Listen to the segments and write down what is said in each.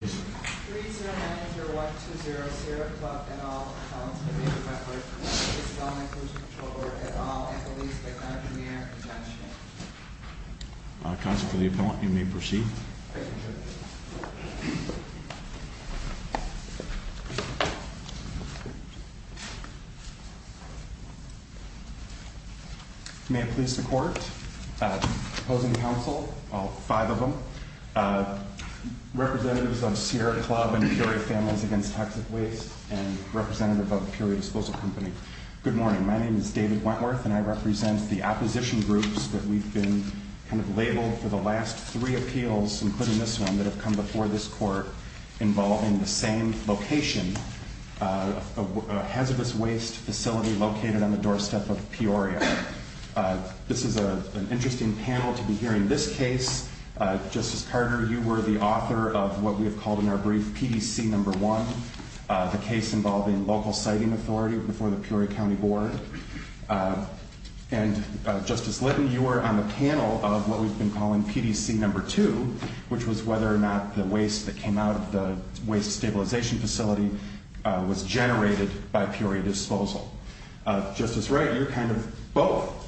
3090120 Sierra Club and all accounts may be referred to the Illinois Pollution Control Board at all, and police may not be near or presential. Counsel for the appellant, you may proceed. Thank you, Judge. May it please the court, opposing counsel, all five of them, representatives of Sierra Club and Peoria Families Against Toxic Waste, and representative of Peoria Disposal Company, good morning. My name is David Wentworth, and I represent the opposition groups that we've been kind of labeled for the last three appeals, including this one, that have come before this court involving the same location, a hazardous waste facility located on the doorstep of Peoria. This is an interesting panel to be hearing this case. Justice Carter, you were the author of what we have called in our brief PDC No. 1, the case involving local siting authority before the Peoria County Board. And Justice Litton, you were on the panel of what we've been calling PDC No. 2, which was whether or not the waste that came out of the waste stabilization facility was generated by Peoria Disposal. Justice Wright, you're kind of both.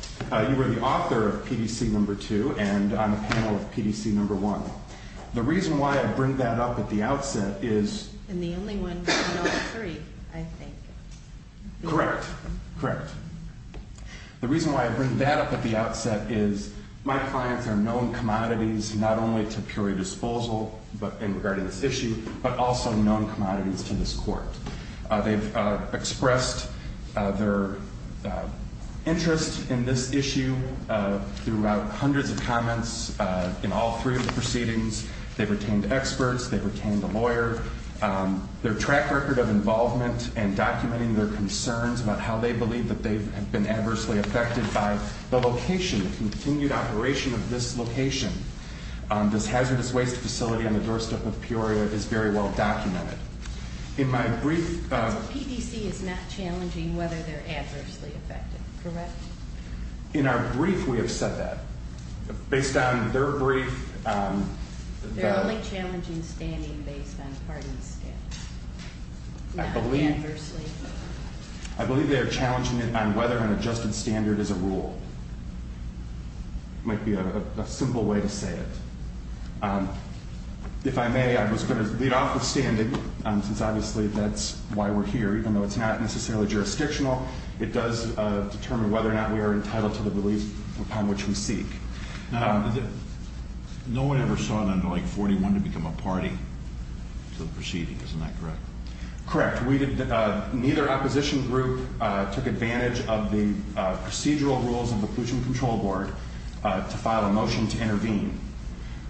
You were the author of PDC No. 2 and on the panel of PDC No. 1. The reason why I bring that up at the outset is... And the only one from No. 3, I think. Correct. Correct. The reason why I bring that up at the outset is my clients are known commodities not only to Peoria Disposal in regarding this issue, but also known commodities to this court. They've expressed their interest in this issue throughout hundreds of comments in all three of the proceedings. They've retained experts. They've retained a lawyer. Their track record of involvement and documenting their concerns about how they believe that they have been adversely affected by the location, the continued operation of this location. This hazardous waste facility on the doorstep of Peoria is very well documented. In my brief... PDC is not challenging whether they're adversely affected, correct? In our brief, we have said that. Based on their brief... They're only challenging standing based on pardons. I believe... Not adversely. I believe they are challenging it on whether an adjusted standard is a rule. Might be a simple way to say it. If I may, I was going to lead off with standing, since obviously that's why we're here. Even though it's not necessarily jurisdictional, it does determine whether or not we are entitled to the release upon which we seek. No one ever saw it under like 41 to become a party to the proceedings, isn't that correct? Correct. Neither opposition group took advantage of the procedural rules of the Pollution Control Board to file a motion to intervene.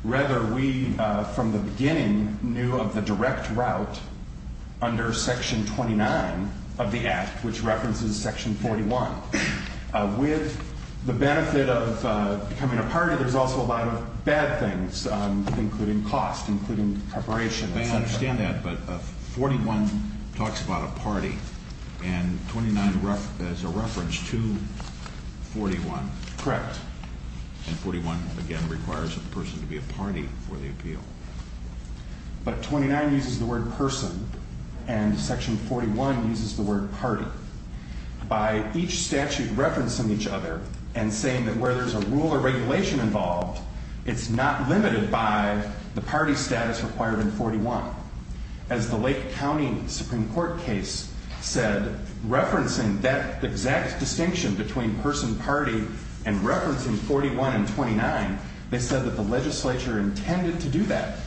Rather, we, from the beginning, knew of the direct route under Section 29 of the Act, which references Section 41. With the benefit of becoming a party, there's also a lot of bad things, including cost, including preparation. I understand that, but 41 talks about a party, and 29 is a reference to 41. Correct. And 41, again, requires a person to be a party for the appeal. But 29 uses the word person, and Section 41 uses the word party. By each statute referencing each other and saying that where there's a rule or regulation involved, it's not limited by the party status required in 41. As the Lake County Supreme Court case said, referencing that exact distinction between person party and referencing 41 and 29, they said that the legislature intended to do that,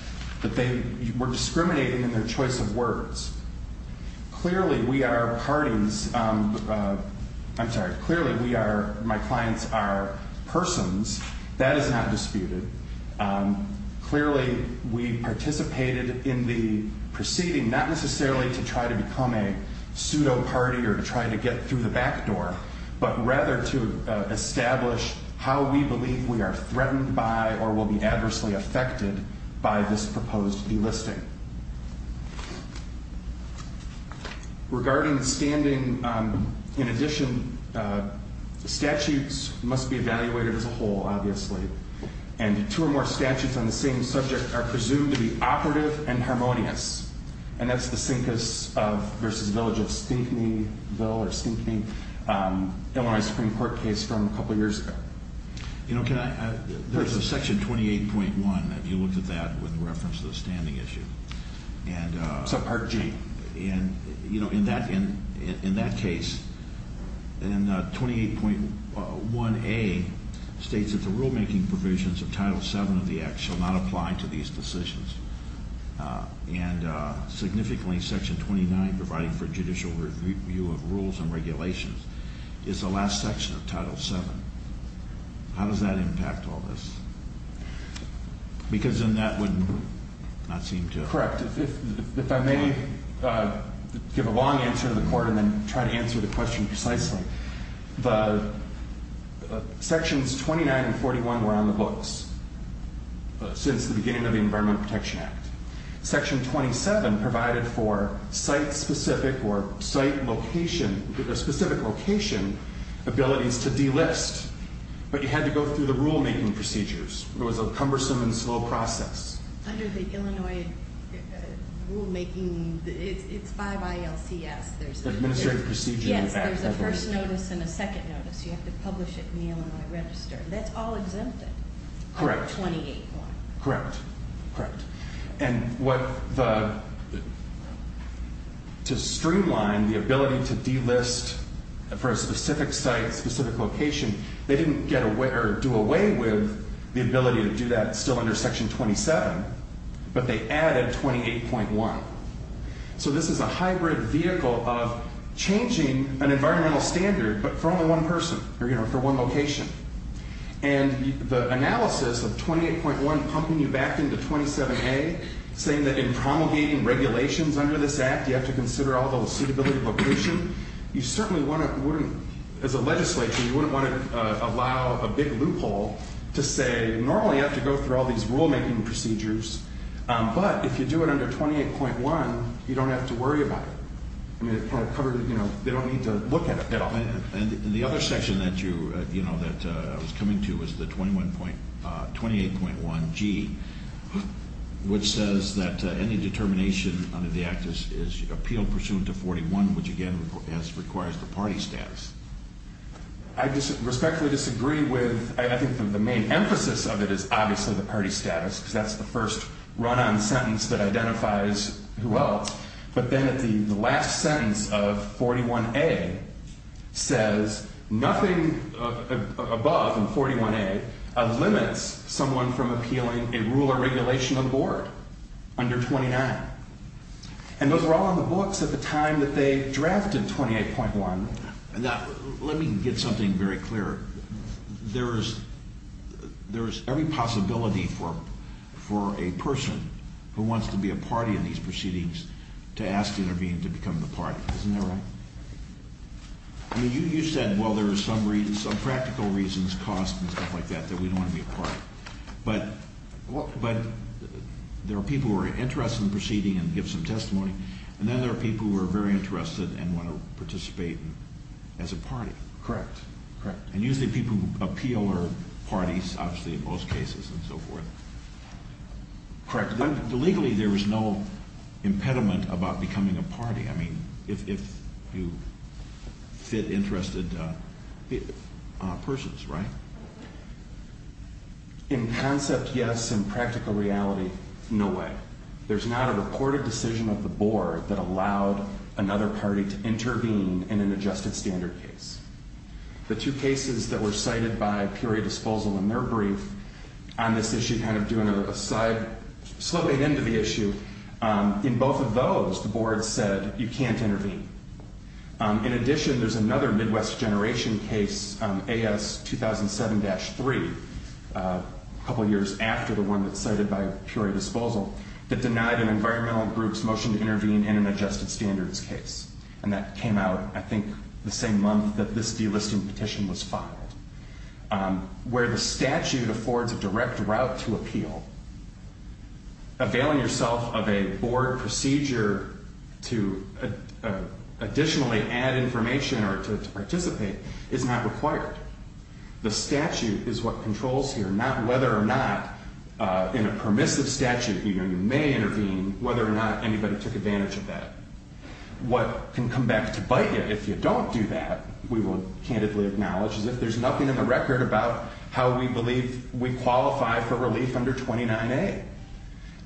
that they were discriminating in their choice of words. Clearly, we are parties. I'm sorry. Clearly, we are, my clients are persons. That is not disputed. Clearly, we participated in the proceeding, not necessarily to try to become a pseudo-party or to try to get through the back door, but rather to establish how we believe we are threatened by or will be adversely affected by this proposed delisting. Regarding standing, in addition, statutes must be evaluated as a whole, obviously. And two or more statutes on the same subject are presumed to be operative and harmonious. And that's the Cincus v. Village of Stinkneyville or Stinkney, Illinois Supreme Court case from a couple years ago. You know, can I, there's a Section 28.1, if you looked at that, with reference to the standing issue. It's a Part G. And, you know, in that case, 28.1A states that the rulemaking provisions of Title VII of the Act shall not apply to these decisions. And significantly, Section 29, providing for judicial review of rules and regulations, is the last section of Title VII. How does that impact all this? Because then that would not seem to. That's correct. If I may give a long answer to the court and then try to answer the question precisely. Sections 29 and 41 were on the books since the beginning of the Environmental Protection Act. Section 27 provided for site-specific or site location, specific location abilities to delist. But you had to go through the rulemaking procedures. It was a cumbersome and slow process. Under the Illinois rulemaking, it's 5 ILCS. Administrative procedure. Yes. There's a first notice and a second notice. You have to publish it in the Illinois Register. That's all exempted. Correct. Under 28.1. Correct. Correct. And what the, to streamline the ability to delist for a specific site, specific location, they didn't do away with the ability to do that still under Section 27. But they added 28.1. So this is a hybrid vehicle of changing an environmental standard, but for only one person. Or, you know, for one location. And the analysis of 28.1 pumping you back into 27A, saying that in promulgating regulations under this Act, you have to consider all the suitability of location, you certainly wouldn't, as a legislature, you wouldn't want to allow a big loophole to say, normally you have to go through all these rulemaking procedures. But if you do it under 28.1, you don't have to worry about it. I mean, it kind of covered, you know, they don't need to look at it at all. And the other section that you, you know, that I was coming to was the 28.1G, which says that any determination under the Act is appealed pursuant to 41, which, again, requires the party status. I respectfully disagree with, I think the main emphasis of it is obviously the party status, because that's the first run-on sentence that identifies who else. But then at the last sentence of 41A says nothing above 41A limits someone from appealing a rule or regulation of the board under 29. And those are all in the books at the time that they drafted 28.1. Now, let me get something very clear. There is every possibility for a person who wants to be a party in these proceedings to ask to intervene to become the party. Isn't that right? I mean, you said, well, there are some reasons, some practical reasons, costs and stuff like that, that we don't want to be a party. But there are people who are interested in the proceeding and give some testimony, and then there are people who are very interested and want to participate as a party. Correct. And usually people who appeal are parties, obviously, in most cases and so forth. Correct. Legally, there is no impediment about becoming a party, I mean, if you fit interested persons, right? In concept, yes. In practical reality, no way. There's not a reported decision of the board that allowed another party to intervene in an adjusted standard case. The two cases that were cited by Peoria Disposal in their brief on this issue, kind of doing a side, sloping into the issue, in both of those, the board said you can't intervene. In addition, there's another Midwest generation case, AS 2007-3, a couple years after the one that's cited by Peoria Disposal, that denied an environmental group's motion to intervene in an adjusted standards case. And that came out, I think, the same month that this delisting petition was filed. Where the statute affords a direct route to appeal, availing yourself of a board procedure to additionally add information or to participate is not required. The statute is what controls here, not whether or not in a permissive statute you may intervene, whether or not anybody took advantage of that. What can come back to bite you if you don't do that, we will candidly acknowledge, is if there's nothing in the record about how we believe we qualify for relief under 29A.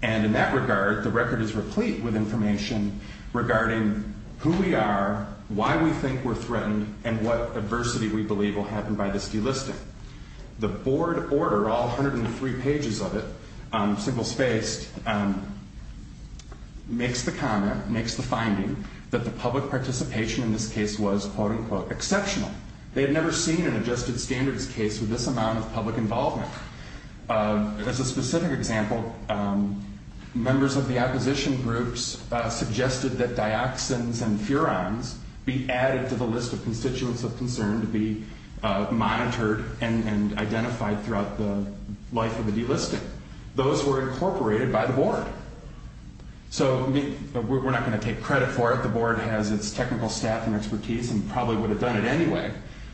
And in that regard, the record is replete with information regarding who we are, why we think we're threatened, and what adversity we believe will happen by this delisting. The board order, all 103 pages of it, single-spaced, makes the comment, makes the finding, that the public participation in this case was, quote-unquote, exceptional. They had never seen an adjusted standards case with this amount of public involvement. As a specific example, members of the opposition groups suggested that dioxins and furans be added to the list of constituents of concern to be monitored and identified throughout the life of the delisting. Those were incorporated by the board. So we're not going to take credit for it. The board has its technical staff and expertise and probably would have done it anyway.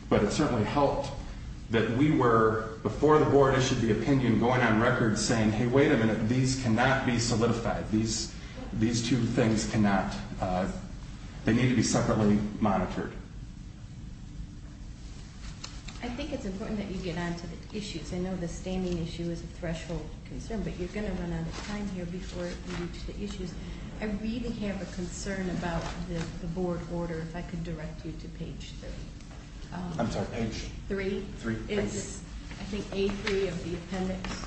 But it certainly helped that we were, before the board issued the opinion, going on record saying, hey, wait a minute, these cannot be solidified. These two things cannot, they need to be separately monitored. I think it's important that you get on to the issues. I know the standing issue is a threshold concern, but you're going to run out of time here before you reach the issues. I really have a concern about the board order. If I could direct you to page 3. I'm sorry, page 3? 3, thank you. It's, I think, A3 of the appendix.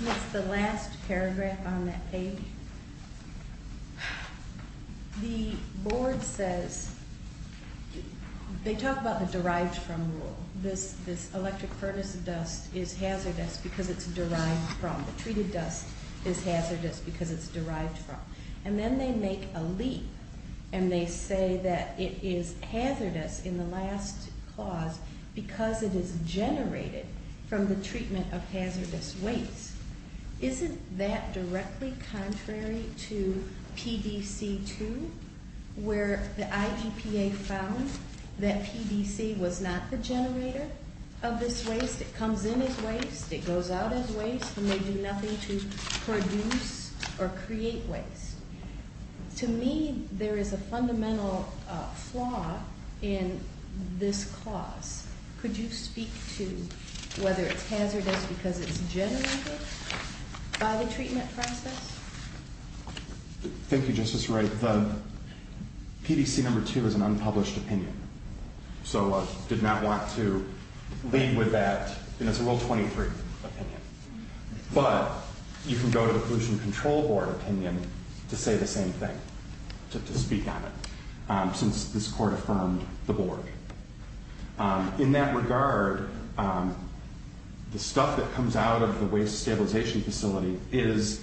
It's the last paragraph on that page. The board says, they talk about the derived from rule. This electric furnace dust is hazardous because it's derived from. The treated dust is hazardous because it's derived from. And then they make a leap and they say that it is hazardous in the last clause because it is generated from the treatment of hazardous waste. Isn't that directly contrary to PDC 2, where the IGPA found that PDC was not the generator of this waste? It comes in as waste. It goes out as waste. And they do nothing to produce or create waste. To me, there is a fundamental flaw in this clause. Could you speak to whether it's hazardous because it's generated by the treatment process? Thank you, Justice Wright. The PDC number 2 is an unpublished opinion, so I did not want to lead with that, and it's a Rule 23 opinion. But you can go to the Pollution Control Board opinion to say the same thing, to speak on it, since this Court affirmed the board. In that regard, the stuff that comes out of the waste stabilization facility is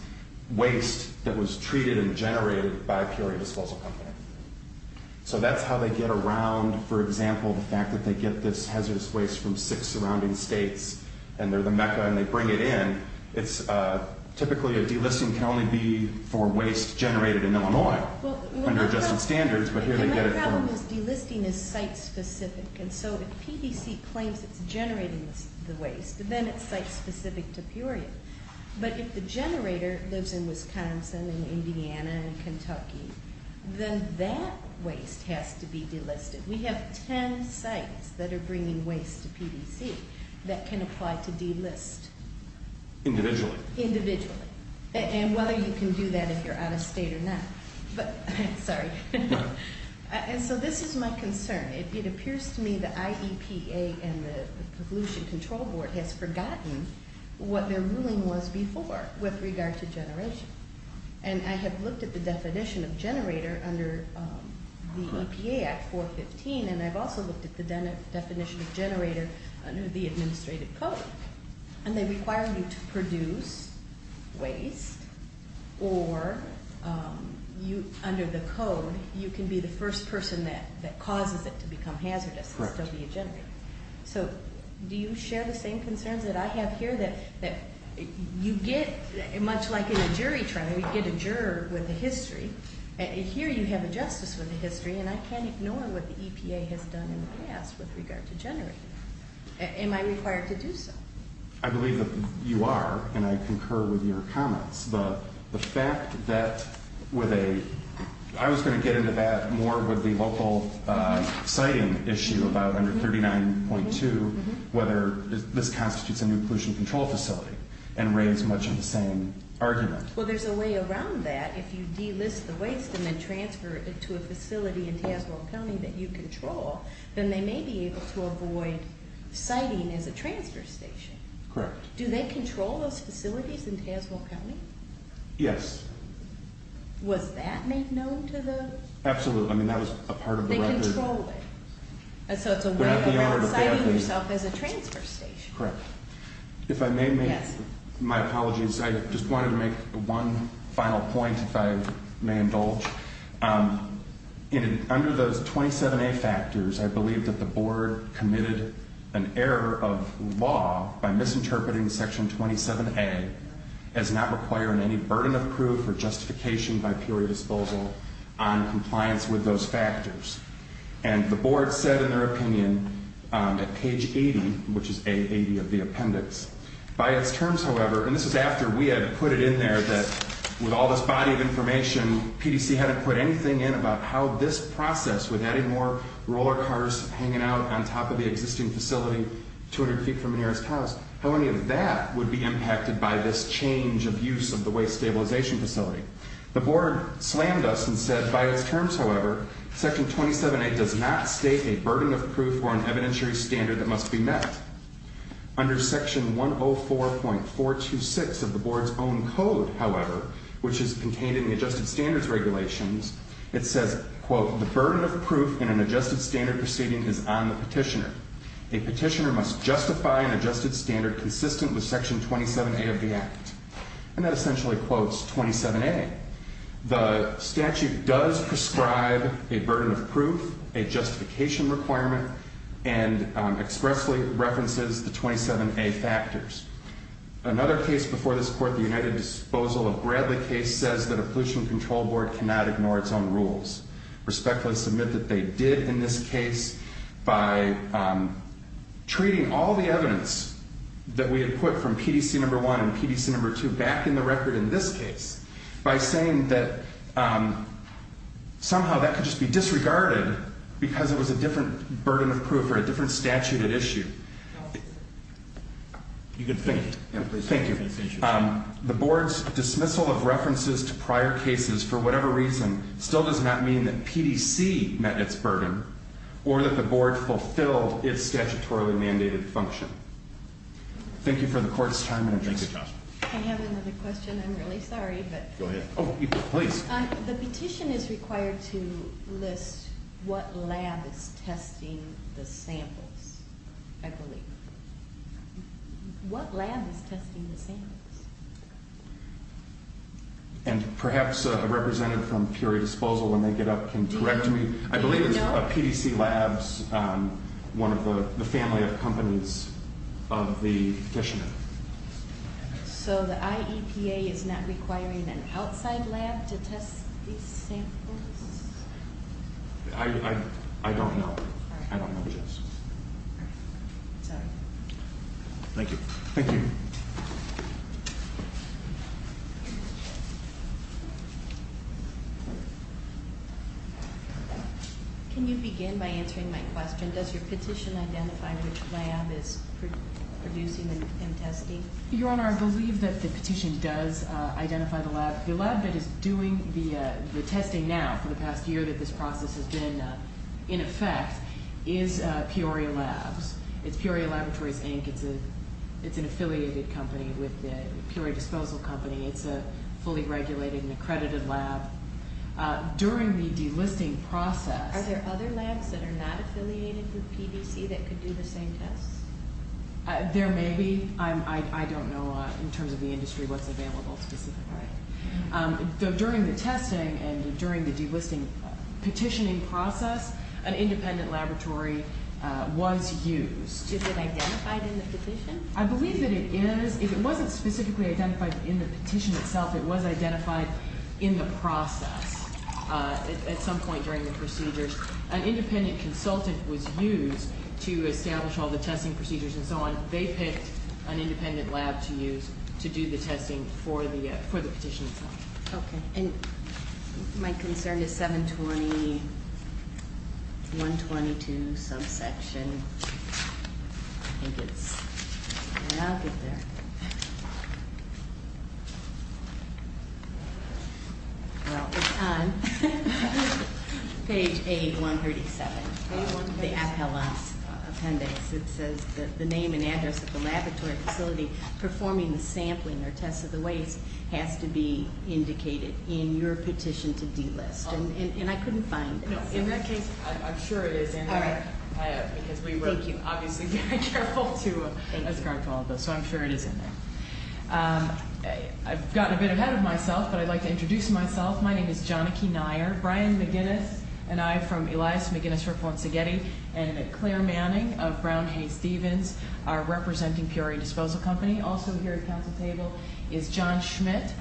waste that was treated and generated by a PRA disposal company. So that's how they get around, for example, the fact that they get this hazardous waste from six surrounding states, and they're the mecca and they bring it in. Typically, a delisting can only be for waste generated in Illinois under adjusted standards, but here they get it from— My problem is delisting is site-specific, and so if PDC claims it's generating the waste, then it's site-specific to Peoria. But if the generator lives in Wisconsin and Indiana and Kentucky, then that waste has to be delisted. We have ten sites that are bringing waste to PDC that can apply to delist. Individually. And whether you can do that if you're out of state or not. Sorry. And so this is my concern. It appears to me the IEPA and the Pollution Control Board has forgotten what their ruling was before with regard to generation. And I have looked at the definition of generator under the EPA Act 415, and I've also looked at the definition of generator under the administrative code. And they require you to produce waste, or under the code you can be the first person that causes it to become hazardous. Correct. So do you share the same concerns that I have here? That you get, much like in a jury trial, you get a juror with a history. Here you have a justice with a history, and I can't ignore what the EPA has done in the past with regard to generating. Am I required to do so? I believe that you are, and I concur with your comments. But the fact that with a – I was going to get into that more with the local siting issue about under 39.2, whether this constitutes a new pollution control facility, and raise much of the same argument. Well, there's a way around that. If you delist the waste and then transfer it to a facility in Tazewell County that you control, then they may be able to avoid siting as a transfer station. Correct. Do they control those facilities in Tazewell County? Yes. Was that made known to the – Absolutely. I mean, that was a part of the record. They control it. So it's a way around siting yourself as a transfer station. Correct. If I may make – Yes. My apologies. I just wanted to make one final point, if I may indulge. Under those 27A factors, I believe that the Board committed an error of law by misinterpreting Section 27A as not requiring any burden of proof or justification by purely disposal on compliance with those factors. And the Board said in their opinion at page 80, which is A80 of the appendix, by its terms, however – and this is after we had put it in there that with all this body of information, PDC hadn't put anything in about how this process, with adding more roller cars hanging out on top of the existing facility 200 feet from the nearest house, how any of that would be impacted by this change of use of the waste stabilization facility. The Board slammed us and said, by its terms, however, Section 27A does not state a burden of proof or an evidentiary standard that must be met. Under Section 104.426 of the Board's own code, however, which is contained in the Adjusted Standards Regulations, it says, quote, the burden of proof in an adjusted standard proceeding is on the petitioner. A petitioner must justify an adjusted standard consistent with Section 27A of the Act. And that essentially quotes 27A. The statute does prescribe a burden of proof, a justification requirement, and expressly references the 27A factors. Another case before this Court, the United Disposal of Bradley case, says that a pollution control board cannot ignore its own rules. Respectfully submit that they did in this case by treating all the evidence that we had put from PDC No. 1 and PDC No. 2 back in the record in this case by saying that somehow that could just be disregarded because it was a different burden of proof or a different statute at issue. You can finish. Thank you. The Board's dismissal of references to prior cases for whatever reason still does not mean that PDC met its burden or that the Board fulfilled its statutorily mandated function. Thank you for the Court's time and attention. I have another question. I'm really sorry, but... Go ahead. Oh, please. The petition is required to list what lab is testing the samples, I believe. What lab is testing the samples? And perhaps a representative from Peoria Disposal, when they get up, can correct me. I believe it's PDC Labs, one of the family of companies of the petitioner. So the IEPA is not requiring an outside lab to test these samples? I don't know. I don't know, yes. Thank you. Thank you. Can you begin by answering my question? Does your petition identify which lab is producing and testing? Your Honor, I believe that the petition does identify the lab. The lab that is doing the testing now for the past year that this process has been in effect is Peoria Labs. It's Peoria Laboratories, Inc. It's an affiliated company with Peoria Disposal Company. It's a fully regulated and accredited lab. During the delisting process Are there other labs that are not affiliated with PDC that could do the same tests? There may be. I don't know, in terms of the industry, what's available specifically. During the testing and during the delisting petitioning process, an independent laboratory was used. Is it identified in the petition? I believe that it is. It wasn't specifically identified in the petition itself. It was identified in the process at some point during the procedures. An independent consultant was used to establish all the testing procedures and so on. They picked an independent lab to use to do the testing for the petition itself. Okay. And my concern is 720-122 subsection. I think it's… I'll get there. Well, it's on page 8-137 of the appellate appendix. It says the name and address of the laboratory facility performing the sampling or test of the waste has to be indicated in your petition to delist. And I couldn't find it. In that case, I'm sure it is in there. All right. Thank you. Because we were obviously very careful to discard all of those. So I'm sure it is in there. I've gotten a bit ahead of myself, but I'd like to introduce myself. My name is Jonike Nyer. Brian McGinnis and I from Elias McGinnis Rippon Seghetti and Claire Manning of Brown Hay-Stevens are representing Peoria Disposal Company. Also here at the Council table is John Schmidt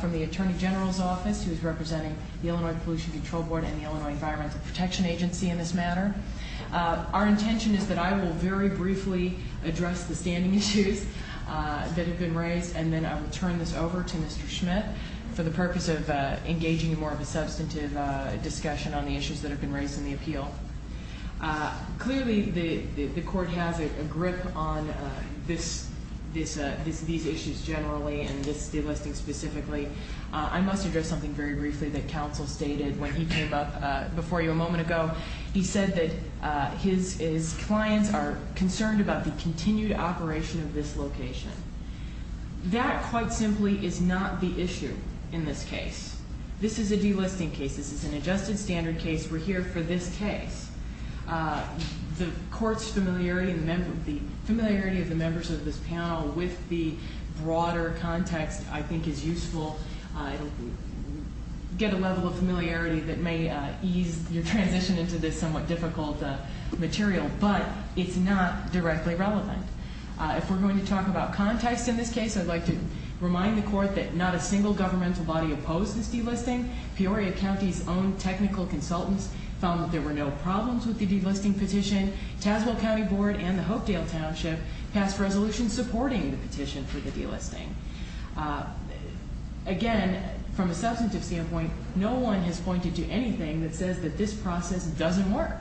from the Attorney General's Office, who is representing the Illinois Pollution Control Board and the Illinois Environmental Protection Agency in this matter. Our intention is that I will very briefly address the standing issues that have been raised and then I will turn this over to Mr. Schmidt for the purpose of engaging in more of a substantive discussion on the issues that have been raised in the appeal. Clearly, the Court has a grip on these issues generally and this delisting specifically. I must address something very briefly that Counsel stated when he came up before you a moment ago. He said that his clients are concerned about the continued operation of this location. That, quite simply, is not the issue in this case. This is a delisting case. This is an adjusted standard case. We're here for this case. The Court's familiarity of the members of this panel with the broader context, I think, is useful. You get a level of familiarity that may ease your transition into this somewhat difficult material, but it's not directly relevant. If we're going to talk about context in this case, I'd like to remind the Court that not a single governmental body opposed this delisting. Peoria County's own technical consultants found that there were no problems with the delisting petition. Tazewell County Board and the Hopedale Township passed resolutions supporting the petition for the delisting. Again, from a substantive standpoint, no one has pointed to anything that says that this process doesn't work.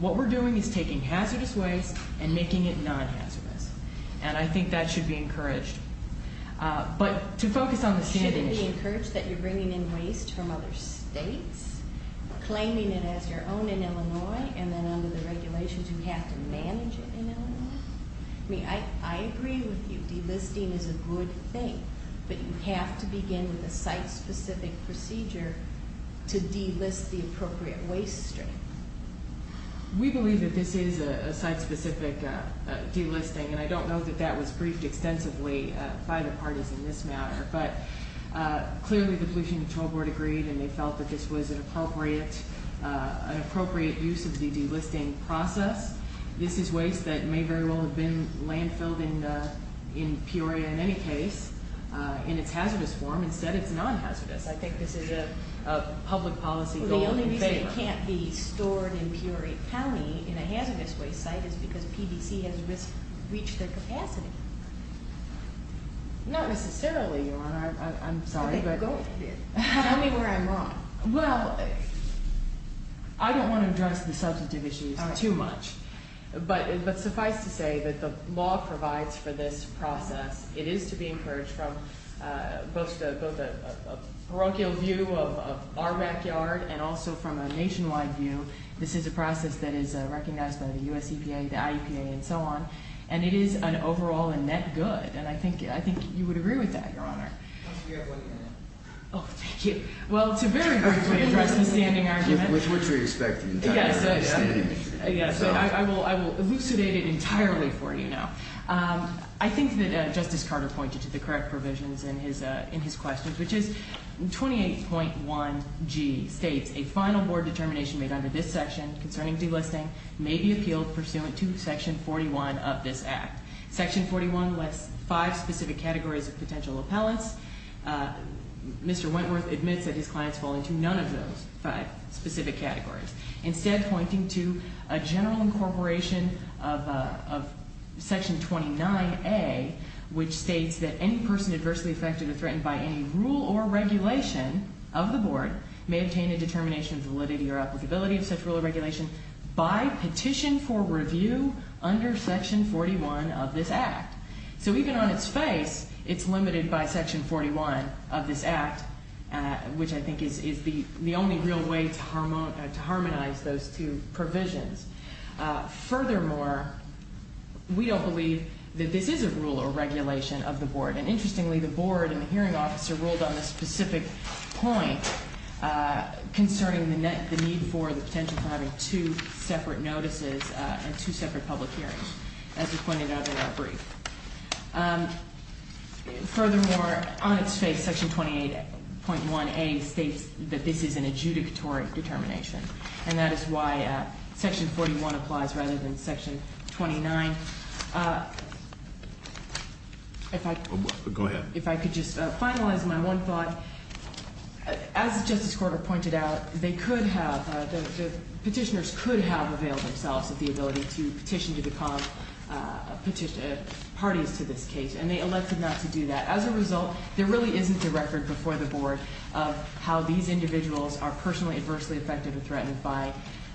What we're doing is taking hazardous waste and making it non-hazardous, and I think that should be encouraged. But to focus on the standard issue. Shouldn't it be encouraged that you're bringing in waste from other states, claiming it as your own in Illinois, and then under the regulations you have to manage it in Illinois? I mean, I agree with you. Delisting is a good thing, but you have to begin with a site-specific procedure to delist the appropriate waste stream. We believe that this is a site-specific delisting, and I don't know that that was briefed extensively by the parties in this matter, but clearly the Pollution Control Board agreed, and they felt that this was an appropriate use of the delisting process. This is waste that may very well have been landfilled in Peoria in any case, in its hazardous form. Instead, it's non-hazardous. I think this is a public policy goal in favor. Well, the only reason it can't be stored in Peoria County in a hazardous waste site is because PBC has reached their capacity. Not necessarily, Your Honor. I'm sorry, but... Okay, go ahead. Tell me where I'm wrong. Well, I don't want to address the substantive issues too much, but suffice to say that the law provides for this process. It is to be encouraged from both a parochial view of our backyard and also from a nationwide view. This is a process that is recognized by the U.S. EPA, the IEPA, and so on, and it is an overall and net good, and I think you would agree with that, Your Honor. You have one minute. Oh, thank you. Well, it's a very good way to address the standing argument. Which we're expecting entirely from the standing committee. Yes, I will elucidate it entirely for you now. I think that Justice Carter pointed to the correct provisions in his questions, which is 28.1G states, a final board determination made under this section concerning delisting may be appealed pursuant to Section 41 of this Act. Section 41 lists five specific categories of potential appellants. Mr. Wentworth admits that his clients fall into none of those five specific categories. Instead, pointing to a general incorporation of Section 29A, which states that any person adversely affected or threatened by any rule or regulation of the board may obtain a determination of validity or applicability of such rule or regulation by petition for review under Section 41 of this Act. So even on its face, it's limited by Section 41 of this Act, which I think is the only real way to harmonize those two provisions. Furthermore, we don't believe that this is a rule or regulation of the board. And interestingly, the board and the hearing officer ruled on this specific point concerning the need for the potential for having two separate notices and two separate public hearings, as was pointed out in our brief. Furthermore, on its face, Section 28.1A states that this is an adjudicatory determination. And that is why Section 41 applies rather than Section 29. If I could just finalize my one thought. As Justice Carter pointed out, they could have, the petitioners could have availed themselves of the ability to petition to become parties to this case. And they elected not to do that. As a result, there really isn't a record before the board of how these individuals are personally adversely affected or threatened by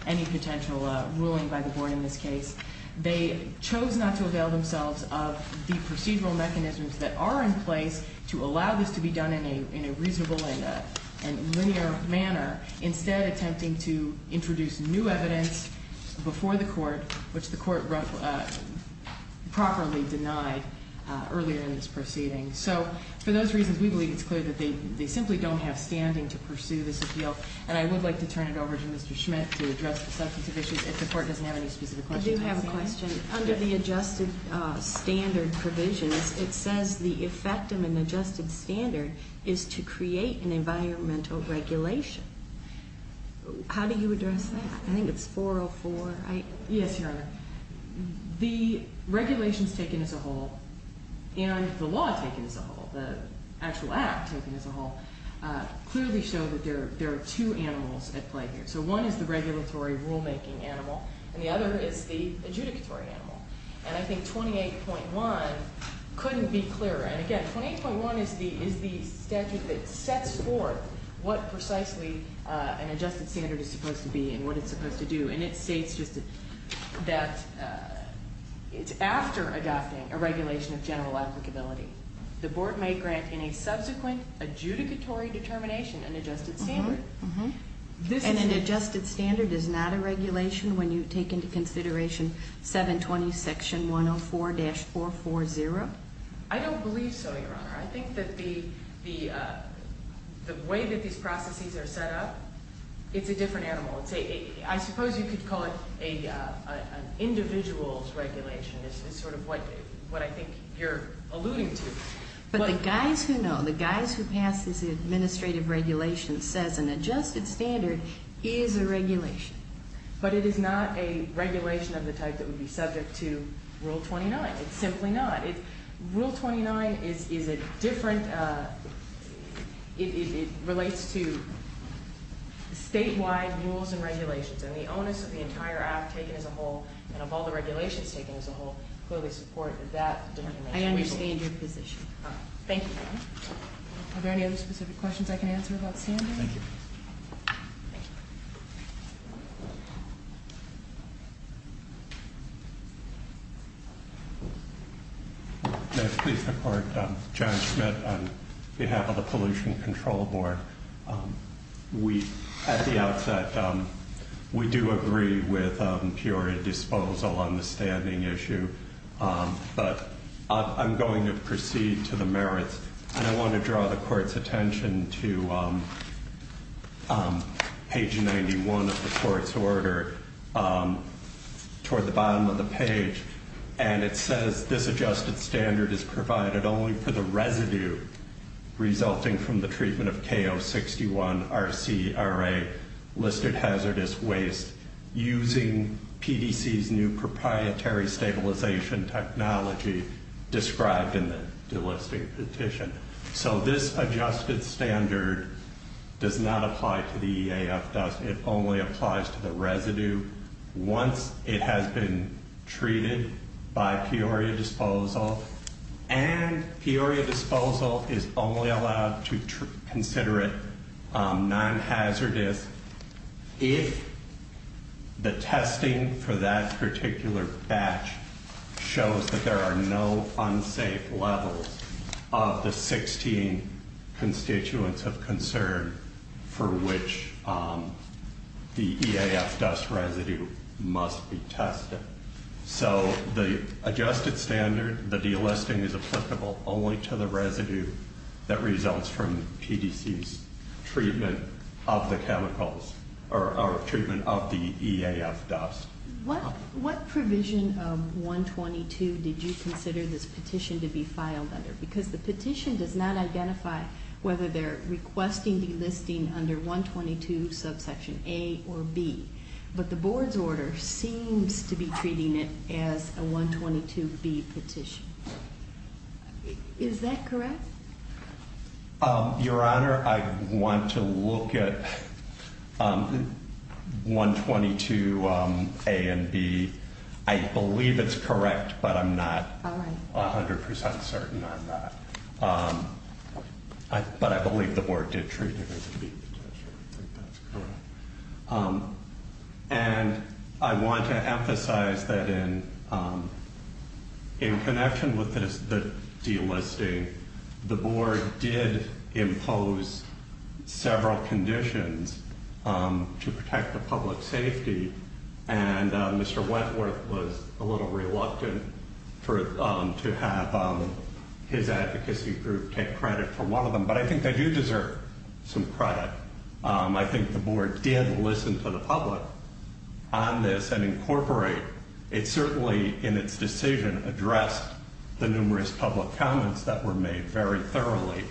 any potential ruling by the board in this case. They chose not to avail themselves of the procedural mechanisms that are in place to allow this to be done in a reasonable and linear manner, instead attempting to introduce new evidence before the court, which the court properly denied earlier in this proceeding. So for those reasons, we believe it's clear that they simply don't have standing to pursue this appeal. And I would like to turn it over to Mr. Schmidt to address the substantive issues, if the court doesn't have any specific questions. I do have a question. Under the adjusted standard provision, it says the effect of an adjusted standard is to create an environmental regulation. How do you address that? I think it's 404. Yes, Your Honor. The regulations taken as a whole, and the law taken as a whole, the actual act taken as a whole, clearly show that there are two animals at play here. So one is the regulatory rulemaking animal, and the other is the adjudicatory animal. And I think 28.1 couldn't be clearer. And, again, 28.1 is the statute that sets forth what precisely an adjusted standard is supposed to be and what it's supposed to do. And it states just that it's after adopting a regulation of general applicability. The board may grant in a subsequent adjudicatory determination an adjusted standard. And an adjusted standard is not a regulation when you take into consideration 720 Section 104-440? I don't believe so, Your Honor. I think that the way that these processes are set up, it's a different animal. I suppose you could call it an individual's regulation is sort of what I think you're alluding to. But the guys who know, the guys who pass this administrative regulation says an adjusted standard is a regulation. But it is not a regulation of the type that would be subject to Rule 29. It's simply not. Rule 29 is a different, it relates to statewide rules and regulations. And the onus of the entire act taken as a whole, and of all the regulations taken as a whole, clearly support that determination. I understand your position. Thank you, Your Honor. Are there any other specific questions I can answer about standards? Thank you. Thank you. May it please the Court. John Schmidt on behalf of the Pollution Control Board. We, at the outset, we do agree with Peoria disposal on the standing issue. But I'm going to proceed to the merits. And I want to draw the Court's attention to page 91 of the Court's order toward the bottom of the page. And it says this adjusted standard is provided only for the residue resulting from the treatment of K061 RCRA listed hazardous waste using PDC's new proprietary stabilization technology described in the delisting petition. So this adjusted standard does not apply to the EAF dust. It only applies to the residue. Once it has been treated by Peoria disposal. And Peoria disposal is only allowed to consider it non-hazardous if the testing for that particular batch shows that there are no unsafe levels of the 16 constituents of concern for which the EAF dust residue must be tested. So the adjusted standard, the delisting is applicable only to the residue that results from PDC's treatment of the chemicals or treatment of the EAF dust. What provision of 122 did you consider this petition to be filed under? Because the petition does not identify whether they're requesting delisting under 122 subsection A or B. But the Board's order seems to be treating it as a 122B petition. Is that correct? Your Honor, I want to look at 122A and B. I believe it's correct, but I'm not 100% certain on that. But I believe the Board did treat it as a B petition. I think that's correct. And I want to emphasize that in connection with the delisting, the Board did impose several conditions to protect the public safety. And Mr. Wentworth was a little reluctant to have his advocacy group take credit for one of them. But I think they do deserve some credit. I think the Board did listen to the public on this and incorporate. It certainly, in its decision, addressed the numerous public comments that were made very thoroughly.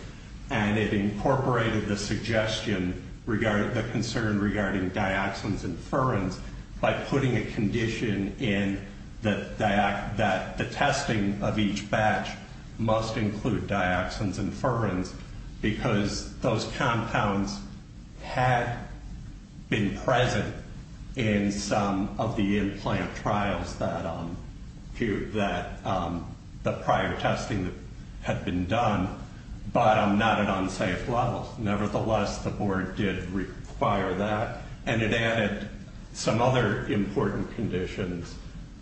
And it incorporated the suggestion regarding the concern regarding dioxins and furans by putting a condition in that the testing of each batch must include dioxins and furans. Because those compounds had been present in some of the implant trials that the prior testing had been done, but not at unsafe levels. Nevertheless, the Board did require that. And it added some other important conditions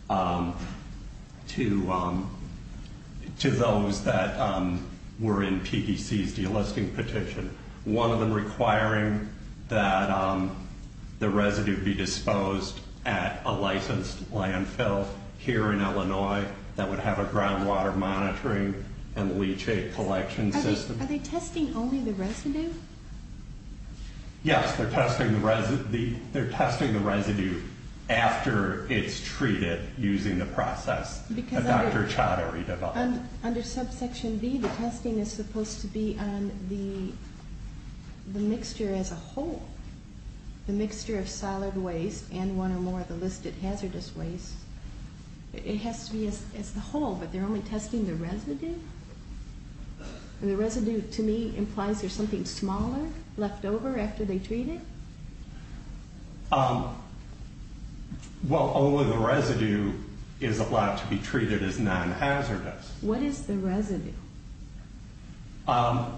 to those that were in PDC's delisting petition. One of them requiring that the residue be disposed at a licensed landfill here in Illinois that would have a groundwater monitoring and leachate collection system. Are they testing only the residue? Yes, they're testing the residue after it's treated using the process that Dr. Chada redeveloped. Under subsection B, the testing is supposed to be on the mixture as a whole, the mixture of solid waste and one or more of the listed hazardous waste. It has to be as the whole, but they're only testing the residue? The residue, to me, implies there's something smaller left over after they treat it? Well, only the residue is allowed to be treated as non-hazardous. What is the residue? The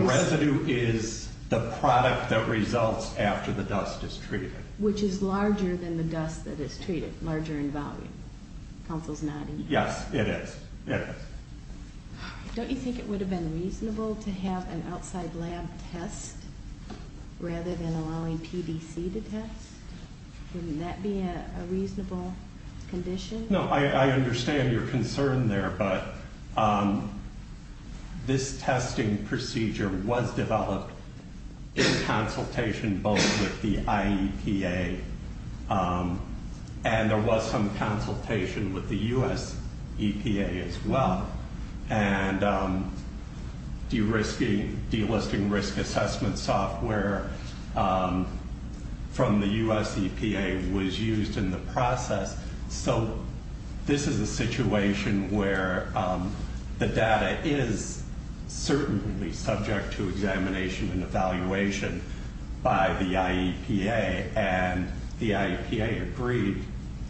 residue is the product that results after the dust is treated. Which is larger than the dust that is treated, larger in volume. Counsel's nodding. Yes, it is. Don't you think it would have been reasonable to have an outside lab test rather than allowing PDC to test? Wouldn't that be a reasonable condition? No, I understand your concern there, but this testing procedure was developed in consultation both with the IEPA and there was some consultation with the U.S. EPA as well. And delisting risk assessment software from the U.S. EPA was used in the process. So this is a situation where the data is certainly subject to examination and evaluation by the IEPA and the IEPA agreed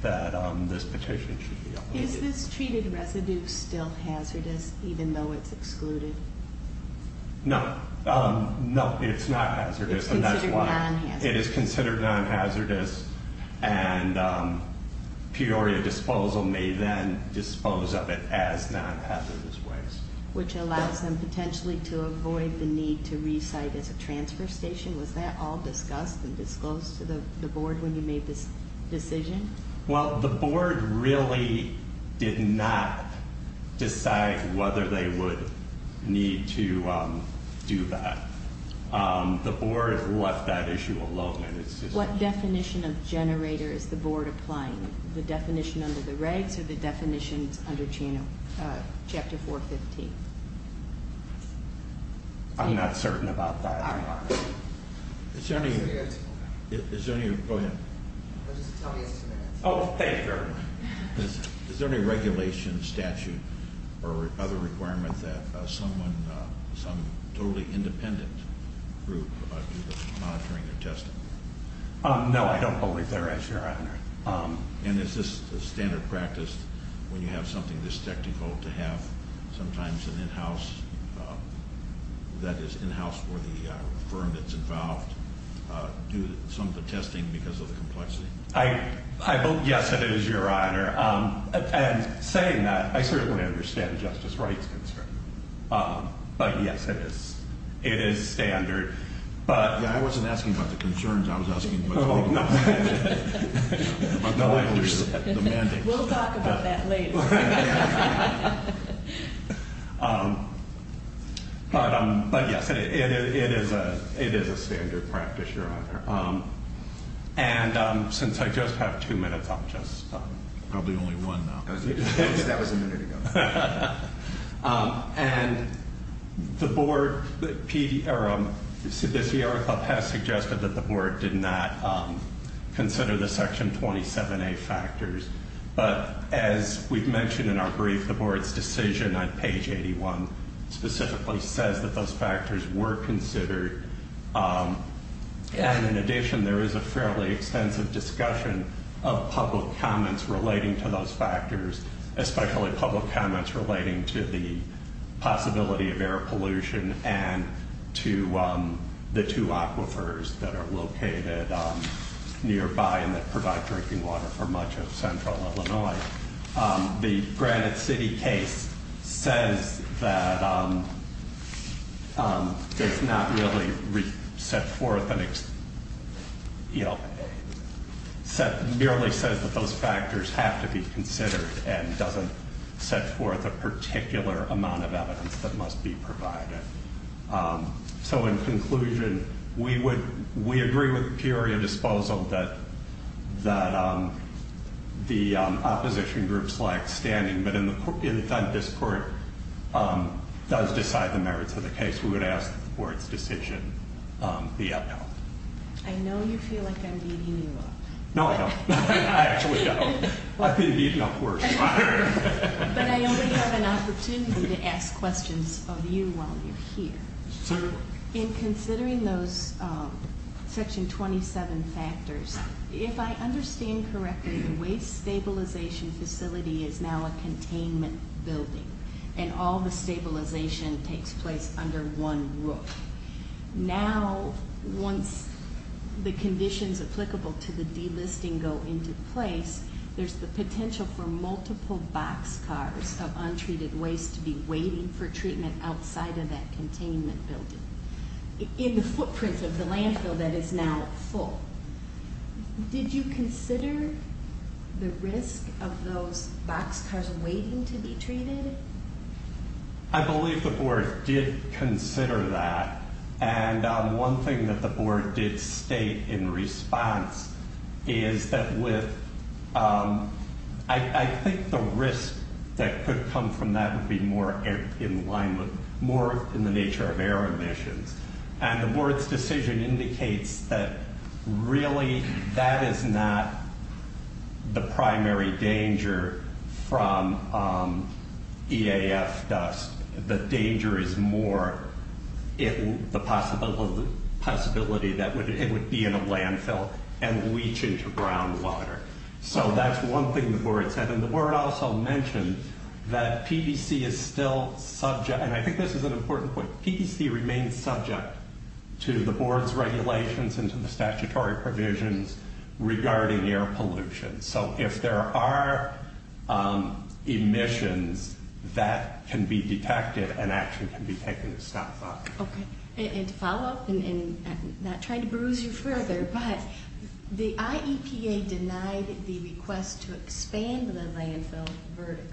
that this petition should be updated. Is this treated residue still hazardous even though it's excluded? No, it's not hazardous. It's considered non-hazardous? And Peoria Disposal may then dispose of it as non-hazardous waste. Which allows them potentially to avoid the need to re-site as a transfer station. Was that all discussed and disclosed to the board when you made this decision? Well, the board really did not decide whether they would need to do that. The board left that issue alone in its decision. What definition of generator is the board applying? The definition under the regs or the definitions under chapter 415? I'm not certain about that. Is there any regulation, statute, or other requirement that someone, some totally independent group, about monitoring their testing? No, I don't believe there is, Your Honor. And is this a standard practice when you have something this technical to have sometimes an in-house, that is in-house for the firm that's involved, do some of the testing because of the complexity? Yes, it is, Your Honor. And saying that, I certainly understand Justice Wright's concern. But yes, it is. I wasn't asking about the concerns. I was asking about the mandates. We'll talk about that later. But yes, it is a standard practice, Your Honor. And since I just have two minutes, I'll just stop. Probably only one now. That was a minute ago. And the board, the CDCR Club has suggested that the board did not consider the Section 27A factors. But as we've mentioned in our brief, the board's decision on page 81 specifically says that those factors were considered. And in addition, there is a fairly extensive discussion of public comments relating to those factors, especially public comments relating to the possibility of air pollution and to the two aquifers that are located nearby and that provide drinking water for much of central Illinois. The Granite City case says that it's not really set forth and merely says that those factors have to be considered and doesn't set forth a particular amount of evidence that must be provided. So in conclusion, we agree with Peoria Disposal that the opposition groups lack standing. But if this court does decide the merits of the case, we would ask that the board's decision be upheld. I know you feel like I'm beating you up. No, I don't. I actually don't. I've been beaten up worse. But I only have an opportunity to ask questions of you while you're here. Certainly. In considering those Section 27 factors, if I understand correctly, the waste stabilization facility is now a containment building and all the stabilization takes place under one roof. Now, once the conditions applicable to the delisting go into place, there's the potential for multiple boxcars of untreated waste to be waiting for treatment outside of that containment building in the footprint of the landfill that is now full. Did you consider the risk of those boxcars waiting to be treated? I believe the board did consider that. And one thing that the board did state in response is that I think the risk that could come from that would be more in the nature of air emissions. And the board's decision indicates that really that is not the primary danger from EAF dust. The danger is more the possibility that it would be in a landfill and leach into groundwater. So that's one thing the board said. And the board also mentioned that PBC is still subject, and I think this is an important point, PBC remains subject to the board's regulations and to the statutory provisions regarding air pollution. So if there are emissions that can be detected, an action can be taken to stop that. And to follow up, and I'm not trying to bruise you further, but the IEPA denied the request to expand the landfill vertically.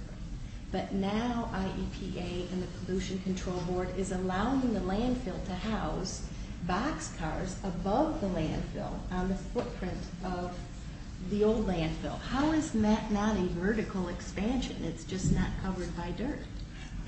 But now IEPA and the Pollution Control Board is allowing the landfill to house boxcars above the landfill on the footprint of the old landfill. How is that not a vertical expansion? It's just not covered by dirt.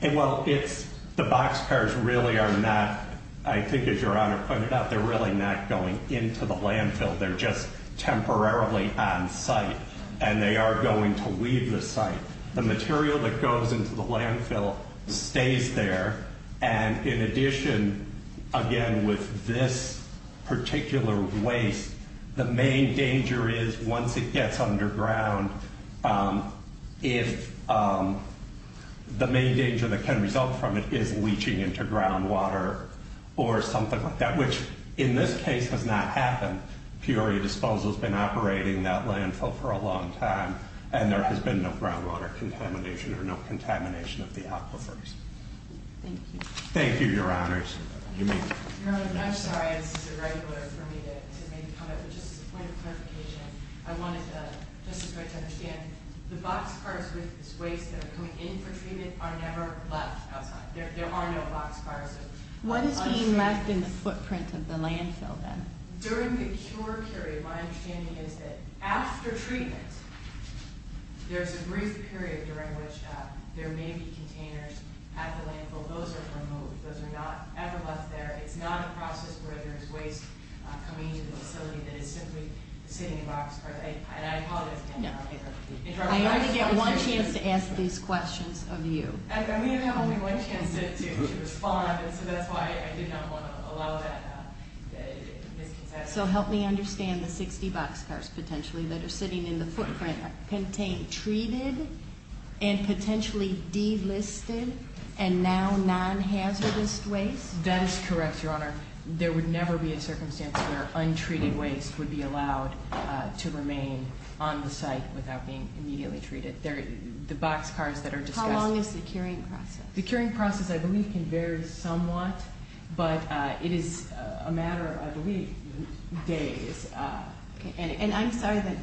Well, the boxcars really are not, I think as Your Honor pointed out, they're really not going into the landfill. They're just temporarily on site, and they are going to leave the site. The material that goes into the landfill stays there. And in addition, again, with this particular waste, the main danger is once it gets underground, if the main danger that can result from it is leaching into groundwater or something like that, which in this case has not happened. Peoria Disposal has been operating that landfill for a long time, and there has been no groundwater contamination or no contamination of the aquifers. Thank you. Thank you, Your Honors. Your Honor, I'm sorry, this is irregular for me to make a comment, but just as a point of clarification, I wanted to, just as a point to understand, the boxcars with this waste that are coming in for treatment are never left outside. There are no boxcars. What is being left in the footprint of the landfill, then? During the cure period, my understanding is that after treatment, there's a brief period during which there may be containers at the landfill. Those are removed. Those are not ever left there. It's not a process where there's waste coming into the facility that is simply sitting in boxcars. And I apologize again for the interruption. I only get one chance to ask these questions of you. We didn't have only one chance to respond, and so that's why I did not want to allow that misconception. So help me understand the 60 boxcars potentially that are sitting in the footprint contain treated and potentially delisted and now non-hazardous waste? That is correct, Your Honor. There would never be a circumstance where untreated waste would be allowed to remain on the site without being immediately treated. The boxcars that are discussed- How long is the curing process? The curing process, I believe, can vary somewhat, but it is a matter of, I believe, days. And I'm sorry that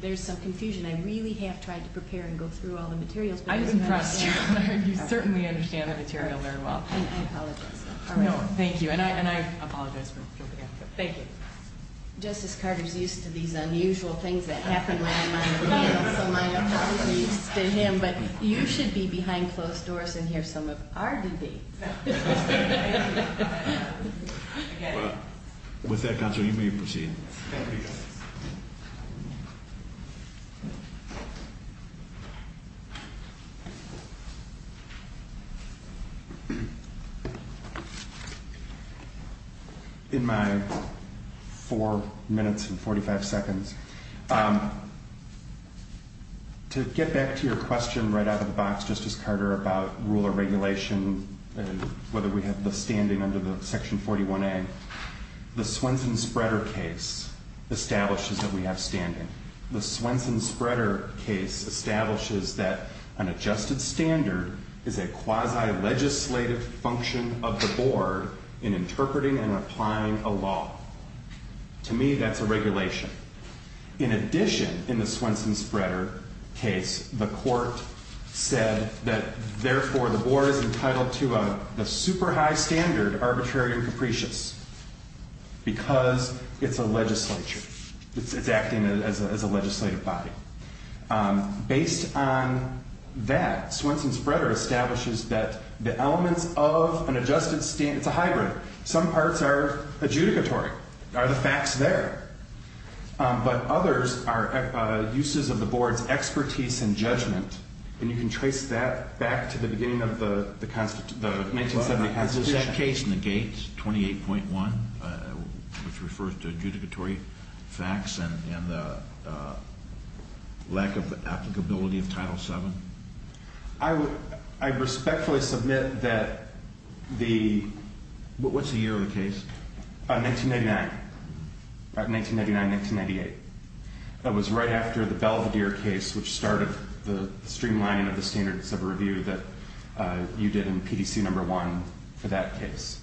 there's some confusion. I really have tried to prepare and go through all the materials. I was impressed, Your Honor. You certainly understand the material very well. And I apologize. No, thank you. And I apologize for the interruption. Thank you. Justice Carter is used to these unusual things that happen when I'm on the field, so my apologies to him. But you should be behind closed doors and hear some of our debate. With that, counsel, you may proceed. Thank you. In my four minutes and 45 seconds, to get back to your question right out of the box, Justice Carter, about rule or regulation, whether we have the standing under the Section 41A, the Swenson-Spreader case establishes that we have standing. The Swenson-Spreader case establishes that an adjusted standard is a quasi-legislative function of the board in interpreting and applying a law. To me, that's a regulation. In addition, in the Swenson-Spreader case, the court said that, therefore, the board is entitled to a super high standard, arbitrary and capricious, because it's a legislature. It's acting as a legislative body. Based on that, Swenson-Spreader establishes that the elements of an adjusted standard, it's a hybrid. Some parts are adjudicatory, are the facts there. But others are uses of the board's expertise and judgment, and you can trace that back to the beginning of the 1970 Constitution. The case negates 28.1, which refers to adjudicatory facts and the lack of applicability of Title VII. I respectfully submit that the – what's the year of the case? 1999. 1999, 1998. That was right after the Belvedere case, which started the streamlining of the standards of review that you did in PDC No. 1 for that case.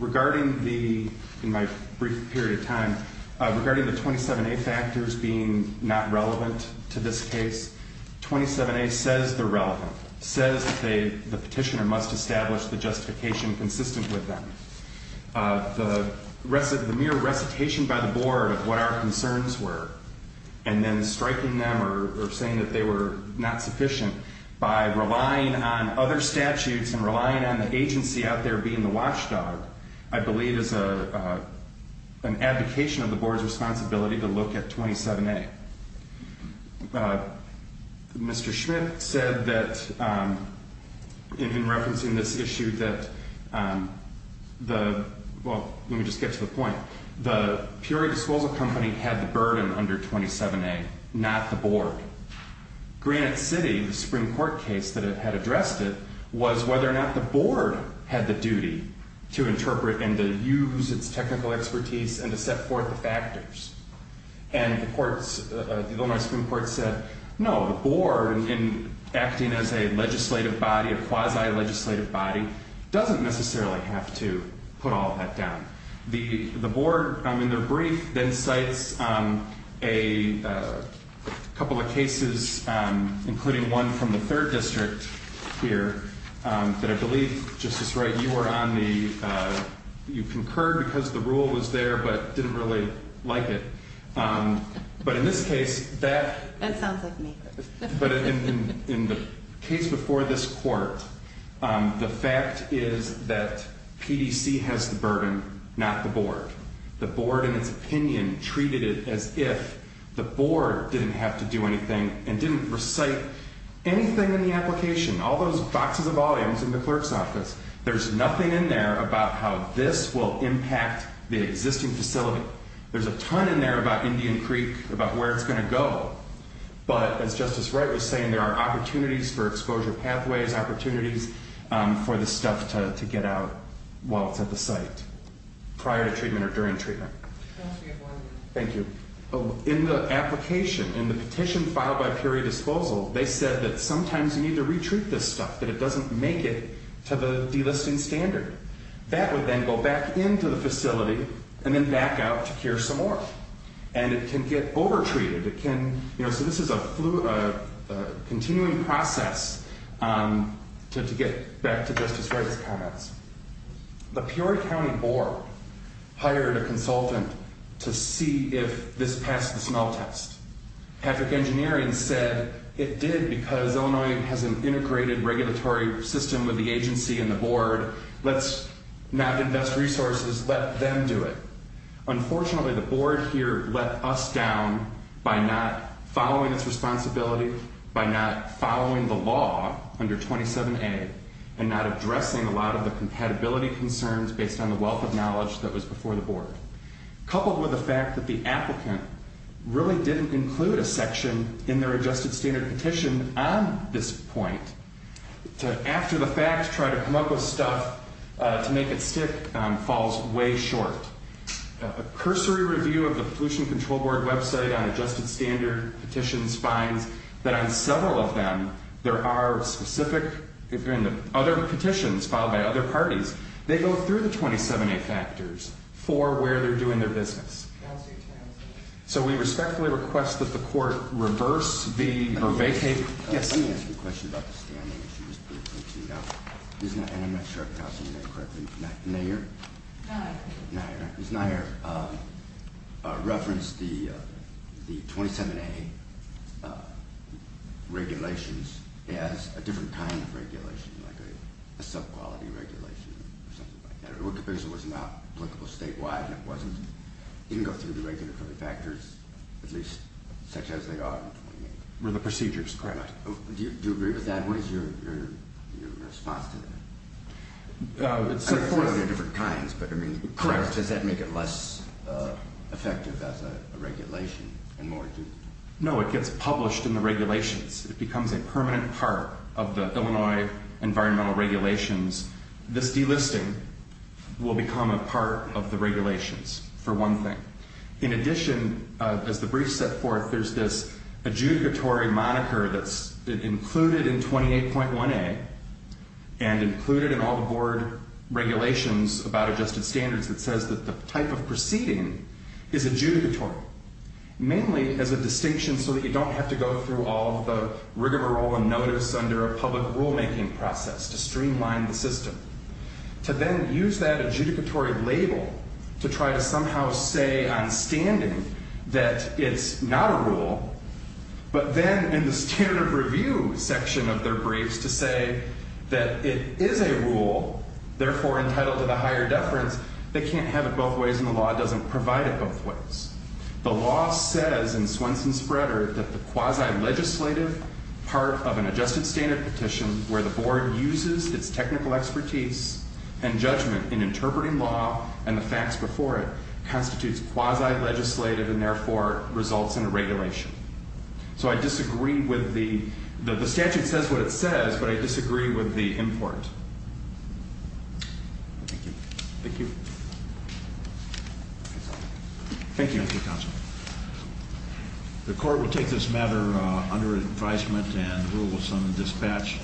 Regarding the – in my brief period of time, regarding the 27A factors being not relevant to this case, 27A says they're relevant, says they – the petitioner must establish the justification consistent with them. The mere recitation by the board of what our concerns were and then striking them or saying that they were not sufficient by relying on other statutes and relying on the agency out there being the watchdog, I believe is an advocation of the board's responsibility to look at 27A. Mr. Schmidt said that in referencing this issue that the – well, let me just get to the point. The Peoria Disclosal Company had the burden under 27A, not the board. Granite City, the Supreme Court case that had addressed it, was whether or not the board had the duty to interpret and to use its technical expertise and to set forth the factors. And the courts – the Illinois Supreme Court said, no, the board, in acting as a legislative body, a quasi-legislative body, doesn't necessarily have to put all that down. The board, in their brief, then cites a couple of cases, including one from the 3rd District here, that I believe, Justice Wright, you were on the – you concurred because the rule was there but didn't really like it. But in this case, that – That sounds like me. But in the case before this court, the fact is that PDC has the burden, not the board. The board, in its opinion, treated it as if the board didn't have to do anything and didn't recite anything in the application, all those boxes of volumes in the clerk's office. There's nothing in there about how this will impact the existing facility. There's a ton in there about Indian Creek, about where it's going to go. But, as Justice Wright was saying, there are opportunities for exposure pathways, opportunities for the stuff to get out while it's at the site, prior to treatment or during treatment. Thank you. In the application, in the petition filed by Peoria Disposal, they said that sometimes you need to re-treat this stuff, that it doesn't make it to the delisting standard. That would then go back into the facility and then back out to cure some more. And it can get over-treated. It can – you know, so this is a continuing process to get back to Justice Wright's comments. The Peoria County Board hired a consultant to see if this passed the smell test. Patrick Engineering said it did because Illinois has an integrated regulatory system with the agency and the board. Let's not invest resources. Let them do it. Unfortunately, the board here let us down by not following its responsibility, by not following the law under 27A, and not addressing a lot of the compatibility concerns based on the wealth of knowledge that was before the board. Coupled with the fact that the applicant really didn't include a section in their adjusted standard petition on this point, to after the fact try to come up with stuff to make it stick falls way short. A cursory review of the Pollution Control Board website on adjusted standard petitions finds that on several of them, there are specific – if you're in the other petitions filed by other parties, they go through the 27A factors for where they're doing their business. So we respectfully request that the court reverse the – or vacate – Let me ask you a question about the standing issues. And I'm not sure if I'm pronouncing your name correctly. Nair? Nair. Ms. Nair referenced the 27A regulations as a different kind of regulation, like a sub-quality regulation or something like that. It was not applicable statewide and it wasn't. It didn't go through the regulatory factors, at least such as they are in 28A. Were the procedures correct? Correct. Do you agree with that? What is your response to that? It's a different kind, but I mean, does that make it less effective as a regulation? No, it gets published in the regulations. It becomes a permanent part of the Illinois environmental regulations. This delisting will become a part of the regulations, for one thing. In addition, as the brief set forth, there's this adjudicatory moniker that's included in 28.1A and included in all the board regulations about adjusted standards that says that the type of proceeding is adjudicatory, mainly as a distinction so that you don't have to go through all the rigmarole and notice under a public rulemaking process to streamline the system. To then use that adjudicatory label to try to somehow say on standing that it's not a rule, but then in the standard of review section of their briefs to say that it is a rule, therefore entitled to the higher deference, they can't have it both ways and the law doesn't provide it both ways. The law says in Swenson's spreader that the quasi-legislative part of an adjusted standard petition where the board uses its technical expertise and judgment in interpreting law and the facts before it constitutes quasi-legislative and therefore results in a regulation. So I disagree with the statute says what it says, but I disagree with the import. Thank you. Thank you. Thank you, counsel. The court will take this matter under advisement and rule will summon dispatch.